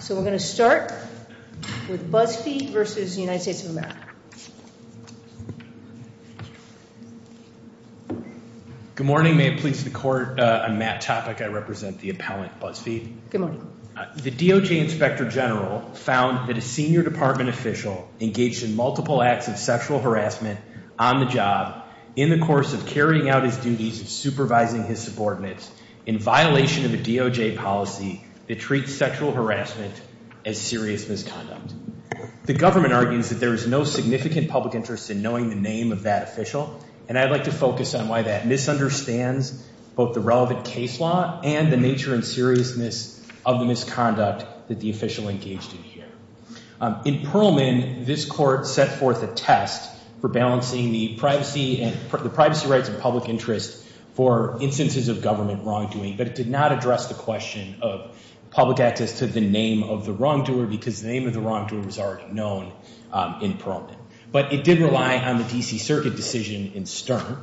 So we're going to start with BuzzFeed versus the United States of America. Good morning, may it please the court, I'm Matt Topic, I represent the appellant, BuzzFeed. Good morning. The DOJ inspector general found that a senior department official engaged in multiple acts of sexual harassment on the job in the course of carrying out his duties of supervising his subordinates in violation of the DOJ policy that treats sexual harassment as serious misconduct. The government argues that there is no significant public interest in knowing the name of that official and I'd like to focus on why that misunderstands both the relevant case law and the nature and seriousness of the misconduct that the official engaged in here. In Perlman, this court set forth a test for balancing the privacy rights and public interest for instances of government wrongdoing but it did not address the question of public access to the name of the wrongdoer because the name of the wrongdoer was already known in Perlman. But it did rely on the D.C. Circuit decision in Stern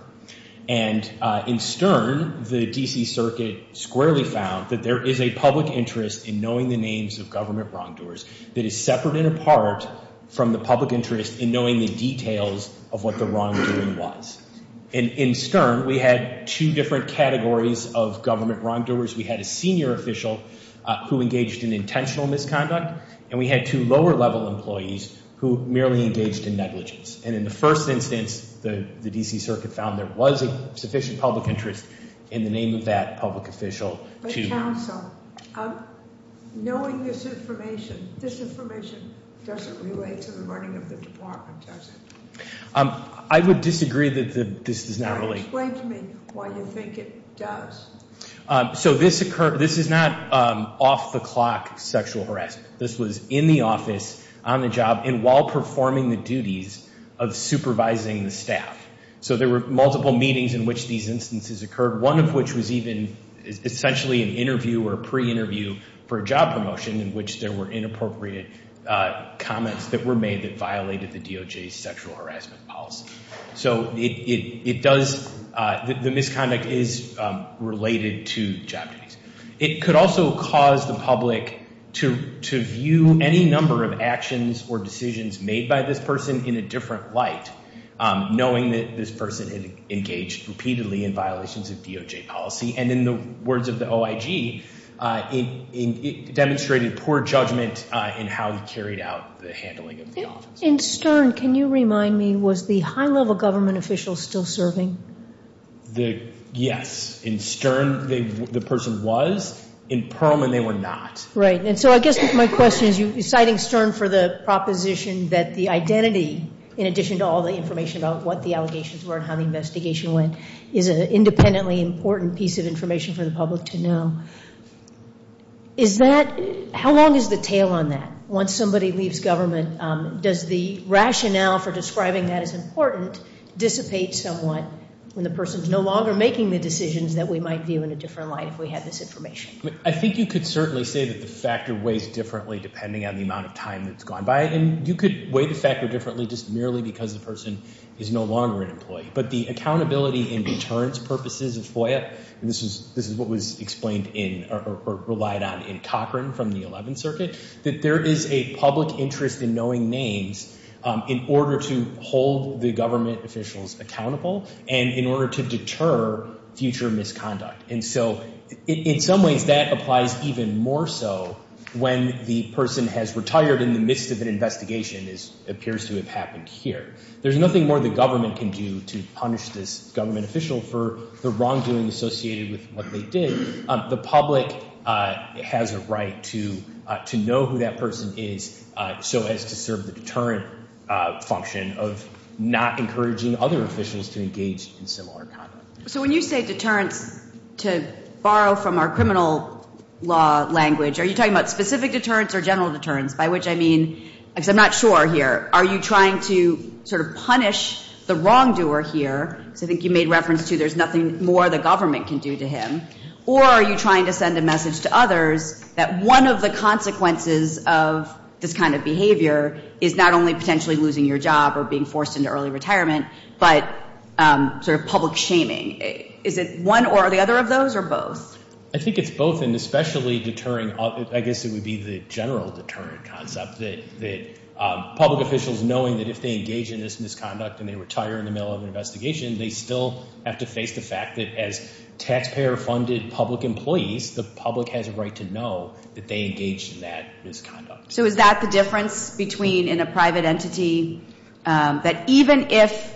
and in Stern, the D.C. Circuit squarely found that there is a public interest in knowing the names of government wrongdoers that is separate and apart from the public interest in knowing the details of what the wrongdoing was. In Stern, we had two different categories of government wrongdoers. We had a senior official who engaged in intentional misconduct and we had two lower level employees who merely engaged in negligence. And in the first instance, the D.C. Circuit found there was a sufficient public interest in the name of that public official. But counsel, knowing this information, this information doesn't relate to the running of the department, does it? I would disagree that this does not relate. Explain to me why you think it does. So this is not off the clock sexual harassment. This was in the office, on the job, and while performing the duties of supervising the staff. So there were multiple meetings in which these instances occurred, one of which was even essentially an interview or pre-interview for a job promotion in which there were inappropriate comments that were made that violated the DOJ's sexual harassment policy. So it does, the misconduct is related to job duties. It could also cause the public to view any number of actions or decisions made by this person in a different light, knowing that this person had engaged repeatedly in violations of DOJ policy. And in the words of the OIG, it demonstrated poor judgment in how he carried out the handling of the office. In Stern, can you remind me, was the high level government official still serving? Yes. In Stern, the person was. In Perlman, they were not. Right. And so I guess my question is, you're citing Stern for the proposition that the identity, in addition to all the information about what the allegations were and how the investigation went, is an independently important piece of information for the public to know. Is that, how long is the tail on that? Once somebody leaves government, does the rationale for describing that as important dissipate somewhat when the person's no longer making the decisions that we might view in a different light if we had this information? I think you could certainly say that the factor weighs differently depending on the amount of time that's gone by. And you could weigh the factor differently just merely because the person is no longer an employee. But the accountability and deterrence purposes of FOIA, and this is what was explained in or relied on in Cochran from the 11th Circuit, that there is a public interest in knowing names in order to hold the government officials accountable and in order to deter future misconduct. And so in some ways that applies even more so when the person has retired in the midst of an investigation, as appears to have happened here. There's nothing more the government can do to punish this government official for the wrongdoing associated with what they did. The public has a right to know who that person is so as to serve the deterrent function of not encouraging other officials to engage in similar conduct. So when you say deterrence, to borrow from our criminal law language, are you talking about specific deterrence or general deterrence? By which I mean, because I'm not sure here, are you trying to sort of punish the wrongdoer here? Because I think you made reference to there's nothing more the government can do to him. Or are you trying to send a message to others that one of the consequences of this kind of behavior is not only potentially losing your job or being forced into early retirement, but sort of public shaming. Is it one or the other of those or both? I think it's both and especially deterring. I guess it would be the general deterrent concept that public officials, knowing that if they engage in this misconduct and they retire in the middle of an investigation, they still have to face the fact that as taxpayer-funded public employees, the public has a right to know that they engaged in that misconduct. So is that the difference between in a private entity that even if,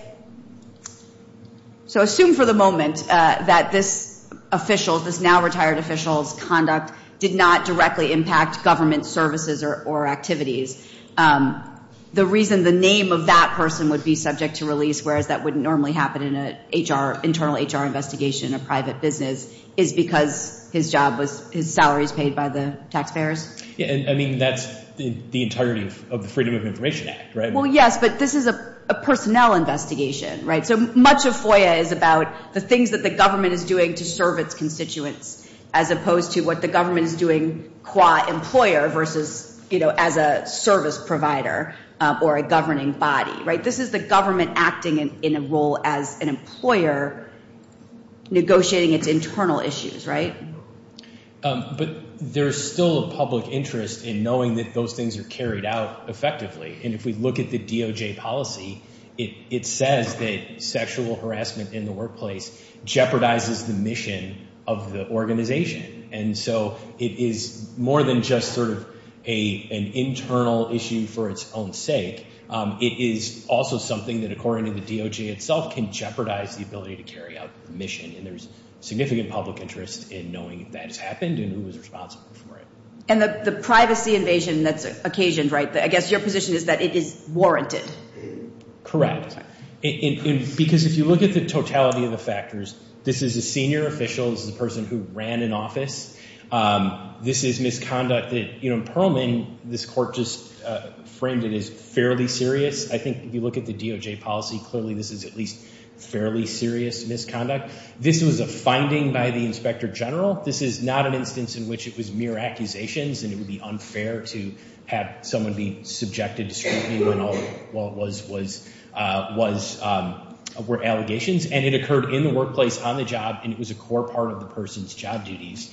so assume for the moment that this official, this now retired official's conduct, did not directly impact government services or activities. The reason the name of that person would be subject to release, whereas that wouldn't normally happen in an internal HR investigation in a private business, is because his job was, his salary is paid by the taxpayers? I mean, that's the entirety of the Freedom of Information Act, right? Well, yes, but this is a personnel investigation, right? So much of FOIA is about the things that the government is doing to serve its constituents as opposed to what the government is doing qua employer versus as a service provider or a governing body, right? This is the government acting in a role as an employer negotiating its internal issues, right? But there's still a public interest in knowing that those things are carried out effectively. And if we look at the DOJ policy, it says that sexual harassment in the workplace jeopardizes the mission of the organization. And so it is more than just sort of an internal issue for its own sake. It is also something that, according to the DOJ itself, can jeopardize the ability to carry out the mission. And there's significant public interest in knowing that it's happened and who was responsible for it. And the privacy invasion that's occasioned, right? I guess your position is that it is warranted. Correct. Because if you look at the totality of the factors, this is a senior official. This is a person who ran an office. This is misconduct. You know, in Perlman, this court just framed it as fairly serious. I think if you look at the DOJ policy, clearly this is at least fairly serious misconduct. This was a finding by the inspector general. This is not an instance in which it was mere accusations and it would be unfair to have someone be subjected to scrutiny when all it was were allegations. And it occurred in the workplace, on the job, and it was a core part of the person's job duties.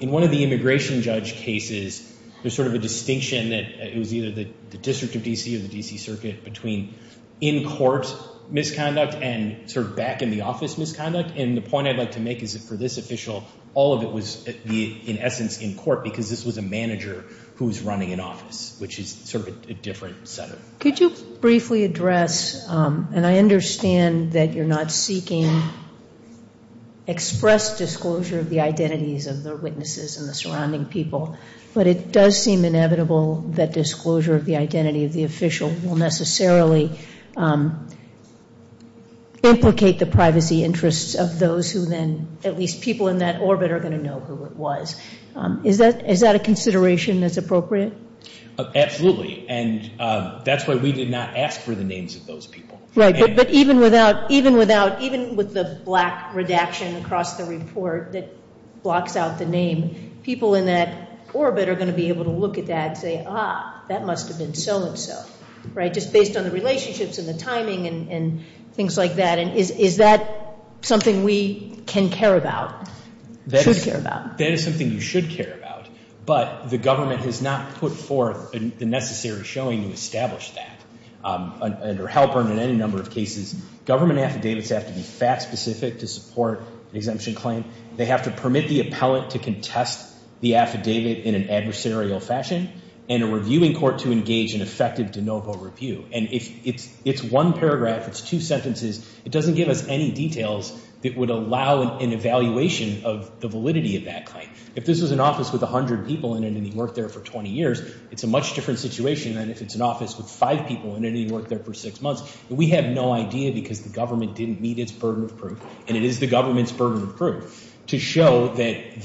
In one of the immigration judge cases, there's sort of a distinction that it was either the District of D.C. or the D.C. Circuit between in-court misconduct and sort of back-in-the-office misconduct. And the point I'd like to make is that for this official, all of it was in essence in court because this was a manager who was running an office, which is sort of a different setup. Could you briefly address, and I understand that you're not seeking express disclosure of the identities of the witnesses and the surrounding people, but it does seem inevitable that disclosure of the identity of the official will necessarily implicate the privacy interests of those who then at least people in that orbit are going to know who it was. Absolutely, and that's why we did not ask for the names of those people. Right, but even with the black redaction across the report that blocks out the name, people in that orbit are going to be able to look at that and say, ah, that must have been so-and-so, right, just based on the relationships and the timing and things like that. And is that something we can care about, should care about? That is something you should care about, but the government has not put forth the necessary showing to establish that. Under Halpern and any number of cases, government affidavits have to be fact-specific to support an exemption claim. They have to permit the appellate to contest the affidavit in an adversarial fashion and a reviewing court to engage in effective de novo review. And if it's one paragraph, it's two sentences, it doesn't give us any details that would allow an evaluation of the validity of that claim. If this was an office with 100 people in it and he worked there for 20 years, it's a much different situation than if it's an office with five people in it and he worked there for six months. And we have no idea because the government didn't meet its burden of proof, and it is the government's burden of proof, to show that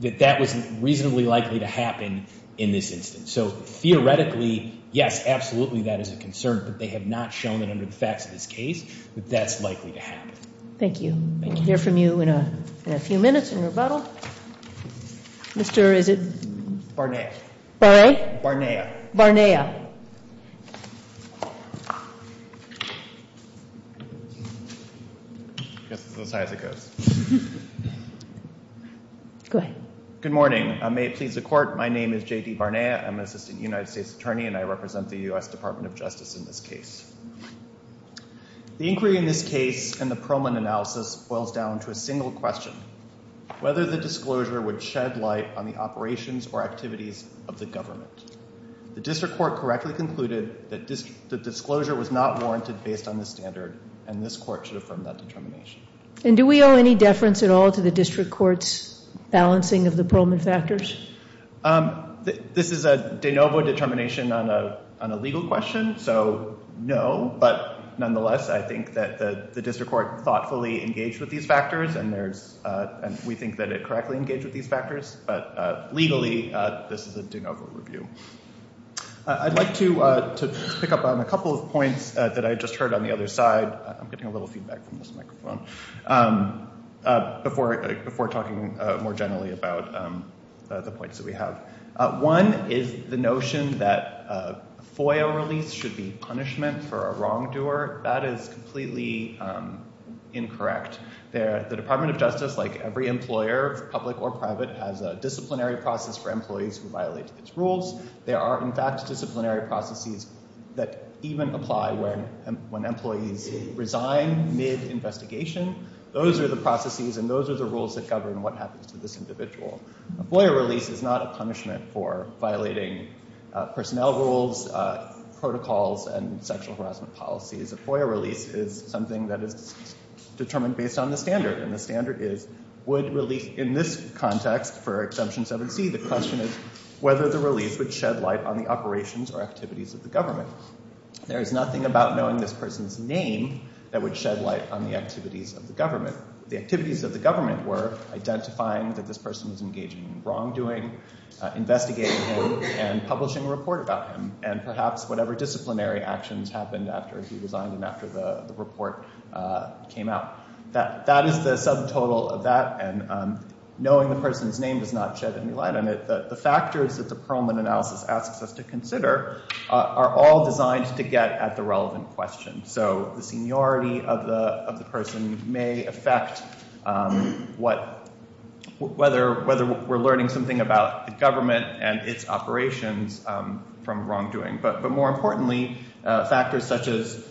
that was reasonably likely to happen in this instance. So theoretically, yes, absolutely that is a concern, but they have not shown that under the facts of this case that that's likely to happen. Thank you. I can hear from you in a few minutes in rebuttal. Mr. is it? Barnea. Barnea? Barnea. Barnea. I guess it's as high as it goes. Go ahead. Good morning. May it please the Court. My name is J.D. Barnea. I'm an assistant United States attorney, and I represent the U.S. Department of Justice in this case. The inquiry in this case and the Perlman analysis boils down to a single question, whether the disclosure would shed light on the operations or activities of the government. The district court correctly concluded that the disclosure was not warranted based on the standard, and this court should affirm that determination. And do we owe any deference at all to the district court's balancing of the Perlman factors? This is a de novo determination on a legal question, so no. But nonetheless, I think that the district court thoughtfully engaged with these factors, and we think that it correctly engaged with these factors. But legally, this is a de novo review. I'd like to pick up on a couple of points that I just heard on the other side. I'm getting a little feedback from this microphone before talking more generally about the points that we have. One is the notion that FOIA release should be punishment for a wrongdoer. That is completely incorrect. The Department of Justice, like every employer, public or private, has a disciplinary process for employees who violate its rules. There are, in fact, disciplinary processes that even apply when employees resign mid-investigation. Those are the processes and those are the rules that govern what happens to this individual. A FOIA release is not a punishment for violating personnel rules, protocols, and sexual harassment policies. A FOIA release is something that is determined based on the standard, and the standard is would release in this context for Exemption 7C, the question is whether the release would shed light on the operations or activities of the government. There is nothing about knowing this person's name that would shed light on the activities of the government. The activities of the government were identifying that this person was engaging in wrongdoing, investigating him, and publishing a report about him, and perhaps whatever disciplinary actions happened after he resigned and after the report came out. That is the subtotal of that, and knowing the person's name does not shed any light on it. The factors that the Perlman analysis asks us to consider are all designed to get at the relevant question. So the seniority of the person may affect whether we're learning something about the government and its operations from wrongdoing. But more importantly, factors such as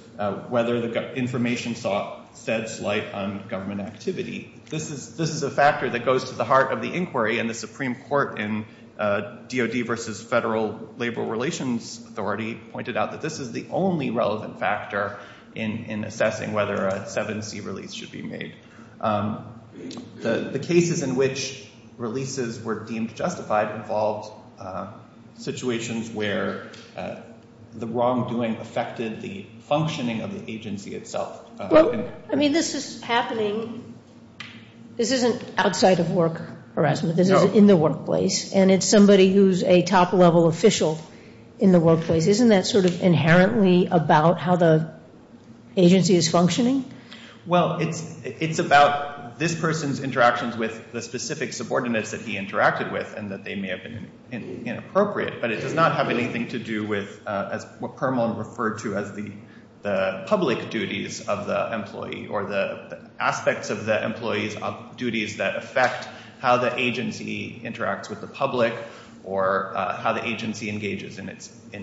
whether the information sheds light on government activity. This is a factor that goes to the heart of the inquiry, and the Supreme Court in DoD versus Federal Labor Relations Authority pointed out that this is the only relevant factor in assessing whether a 7C release should be made. The cases in which releases were deemed justified involved situations where the wrongdoing affected the functioning of the agency itself. I mean, this is happening. This isn't outside of work harassment. This is in the workplace, and it's somebody who's a top-level official in the workplace. Isn't that sort of inherently about how the agency is functioning? Well, it's about this person's interactions with the specific subordinates that he interacted with and that they may have been inappropriate, but it does not have anything to do with what Perlman referred to as the public duties of the employee or the aspects of the employee's duties that affect how the agency interacts with the public or how the agency engages in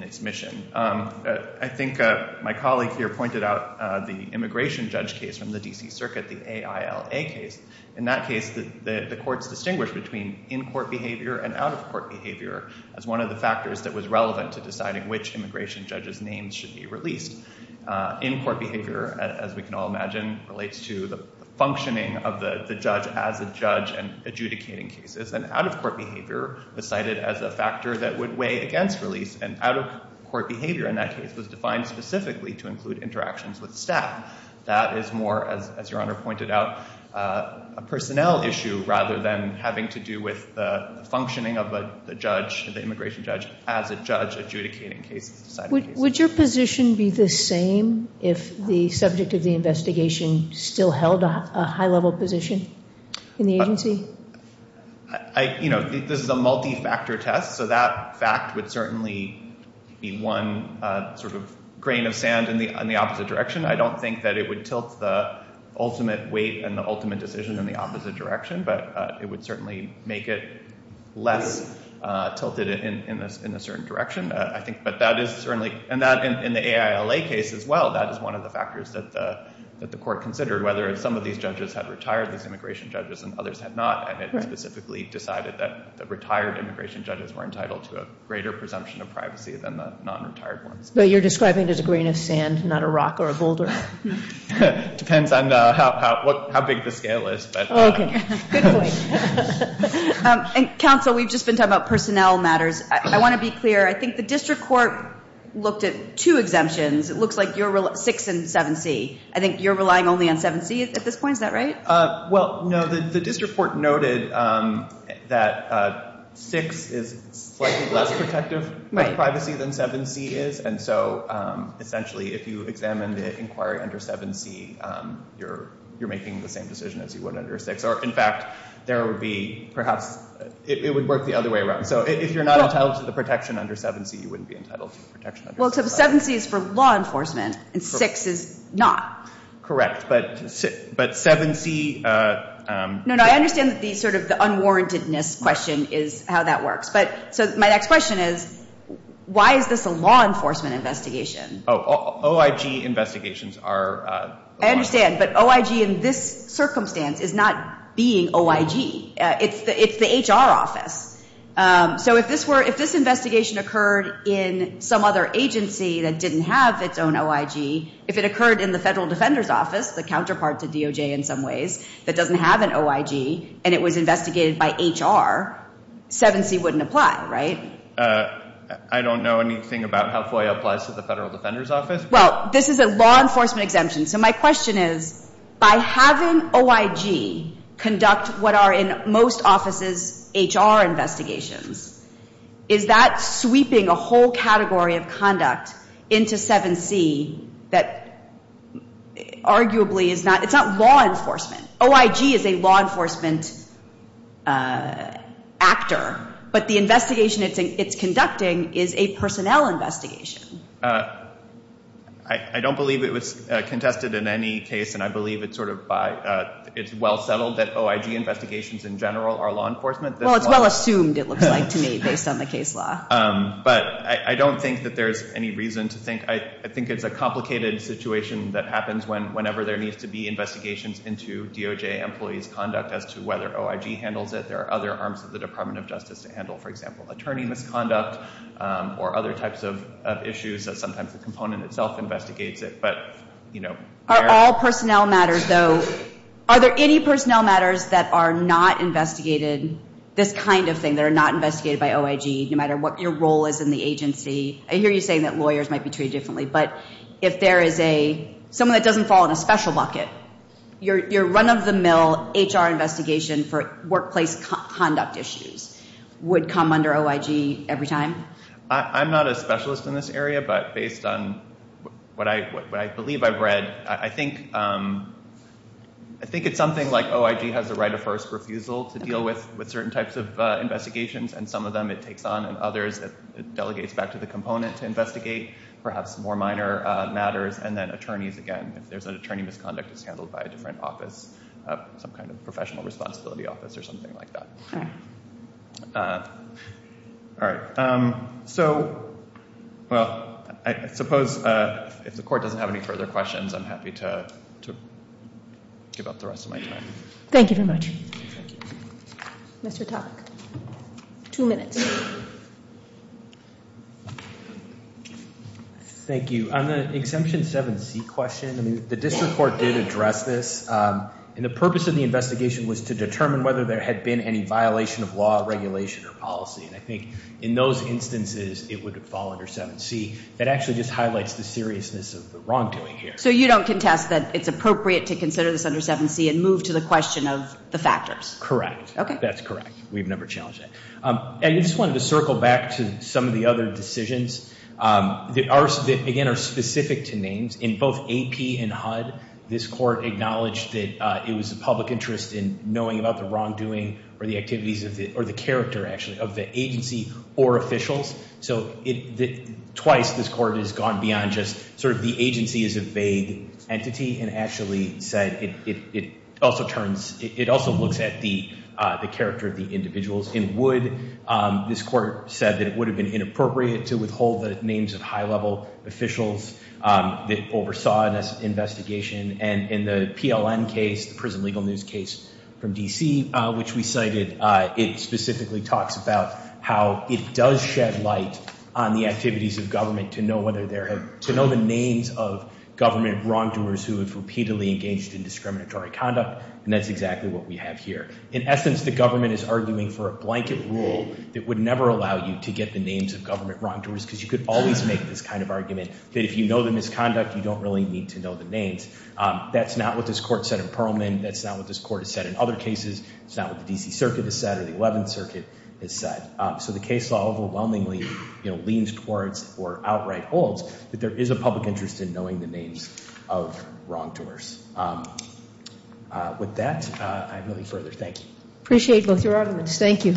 its mission. I think my colleague here pointed out the immigration judge case from the D.C. Circuit, the AILA case. In that case, the courts distinguished between in-court behavior and out-of-court behavior as one of the factors that was relevant to deciding which immigration judge's name should be released. In-court behavior, as we can all imagine, relates to the functioning of the judge as a judge and adjudicating cases, and out-of-court behavior was cited as a factor that would weigh against release, and out-of-court behavior in that case was defined specifically to include interactions with staff. That is more, as Your Honor pointed out, a personnel issue rather than having to do with the functioning of the judge, the immigration judge, as a judge adjudicating cases, deciding cases. Would your position be the same if the subject of the investigation still held a high-level position in the agency? I, you know, this is a multi-factor test, so that fact would certainly be one sort of grain of sand in the opposite direction. I don't think that it would tilt the ultimate weight and the ultimate decision in the opposite direction, but it would certainly make it less tilted in a certain direction, I think. But that is certainly, and that in the AILA case as well, that is one of the factors that the court considered, whether some of these judges had retired these immigration judges and others had not, and it specifically decided that the retired immigration judges were entitled to a greater presumption of privacy than the non-retired ones. But you're describing it as a grain of sand, not a rock or a boulder. Depends on how big the scale is. Oh, okay. Good point. Counsel, we've just been talking about personnel matters. I want to be clear. I think the district court looked at two exemptions. It looks like six and 7C. I think you're relying only on 7C at this point. Is that right? Well, no, the district court noted that six is slightly less protective of privacy than 7C is, and so essentially if you examine the inquiry under 7C, you're making the same decision as you would under 6. Or in fact, there would be perhaps, it would work the other way around. So if you're not entitled to the protection under 7C, you wouldn't be entitled to the protection under 6. Well, so 7C is for law enforcement and 6 is not. Correct, but 7C- No, no, I understand that the sort of unwarrantedness question is how that works. So my next question is, why is this a law enforcement investigation? OIG investigations are- I understand, but OIG in this circumstance is not being OIG. It's the HR office. So if this investigation occurred in some other agency that didn't have its own OIG, if it occurred in the Federal Defender's Office, the counterpart to DOJ in some ways, that doesn't have an OIG and it was investigated by HR, 7C wouldn't apply, right? I don't know anything about how FOIA applies to the Federal Defender's Office. Well, this is a law enforcement exemption. So my question is, by having OIG conduct what are in most offices HR investigations, is that sweeping a whole category of conduct into 7C that arguably is not-it's not law enforcement. OIG is a law enforcement actor, but the investigation it's conducting is a personnel investigation. I don't believe it was contested in any case, and I believe it's well settled that OIG investigations in general are law enforcement. Well, it's well assumed it looks like to me based on the case law. But I don't think that there's any reason to think-I think it's a complicated situation that happens whenever there needs to be investigations into DOJ employees' conduct as to whether OIG handles it. There are other arms of the Department of Justice to handle, for example, attorney misconduct or other types of issues that sometimes the component itself investigates it. But, you know- Are all personnel matters, though-are there any personnel matters that are not investigated, this kind of thing, that are not investigated by OIG no matter what your role is in the agency? I hear you saying that lawyers might be treated differently, but if there is a-someone that doesn't fall in a special bucket, your run-of-the-mill HR investigation for workplace conduct issues would come under OIG every time? I'm not a specialist in this area, but based on what I believe I've read, I think it's something like OIG has a right of first refusal to deal with certain types of investigations, and some of them it takes on, and others it delegates back to the component to investigate, perhaps more minor matters, and then attorneys, again, if there's an attorney misconduct that's handled by a different office, some kind of professional responsibility office or something like that. All right. So, well, I suppose if the Court doesn't have any further questions, I'm happy to give up the rest of my time. Thank you very much. Thank you. Mr. Topic, two minutes. Thank you. On the exemption 7C question, I mean, the district court did address this, and the purpose of the investigation was to determine whether there had been any violation of law, regulation, or policy, and I think in those instances it would fall under 7C. That actually just highlights the seriousness of the wrongdoing here. So you don't contest that it's appropriate to consider this under 7C and move to the question of the factors? Correct. Okay. That's correct. We've never challenged that. I just wanted to circle back to some of the other decisions that, again, are specific to names. In both AP and HUD, this Court acknowledged that it was the public interest in knowing about the wrongdoing or the activities or the character, actually, of the agency or officials. So twice this Court has gone beyond just sort of the agency as a vague entity and actually said it also looks at the character of the individuals in HUD. This Court said that it would have been inappropriate to withhold the names of high-level officials that oversaw this investigation. And in the PLN case, the Prison Legal News case from D.C., which we cited, it specifically talks about how it does shed light on the activities of government to know whether there have to know the names of government wrongdoers who have repeatedly engaged in discriminatory conduct, and that's exactly what we have here. In essence, the government is arguing for a blanket rule that would never allow you to get the names of government wrongdoers because you could always make this kind of argument that if you know the misconduct, you don't really need to know the names. That's not what this Court said in Perlman. That's not what this Court has said in other cases. It's not what the D.C. Circuit has said or the Eleventh Circuit has said. So the case law overwhelmingly leans towards or outright holds that there is a public interest in knowing the names of wrongdoers. With that, I have no further. Thank you. Appreciate both your arguments. Thank you.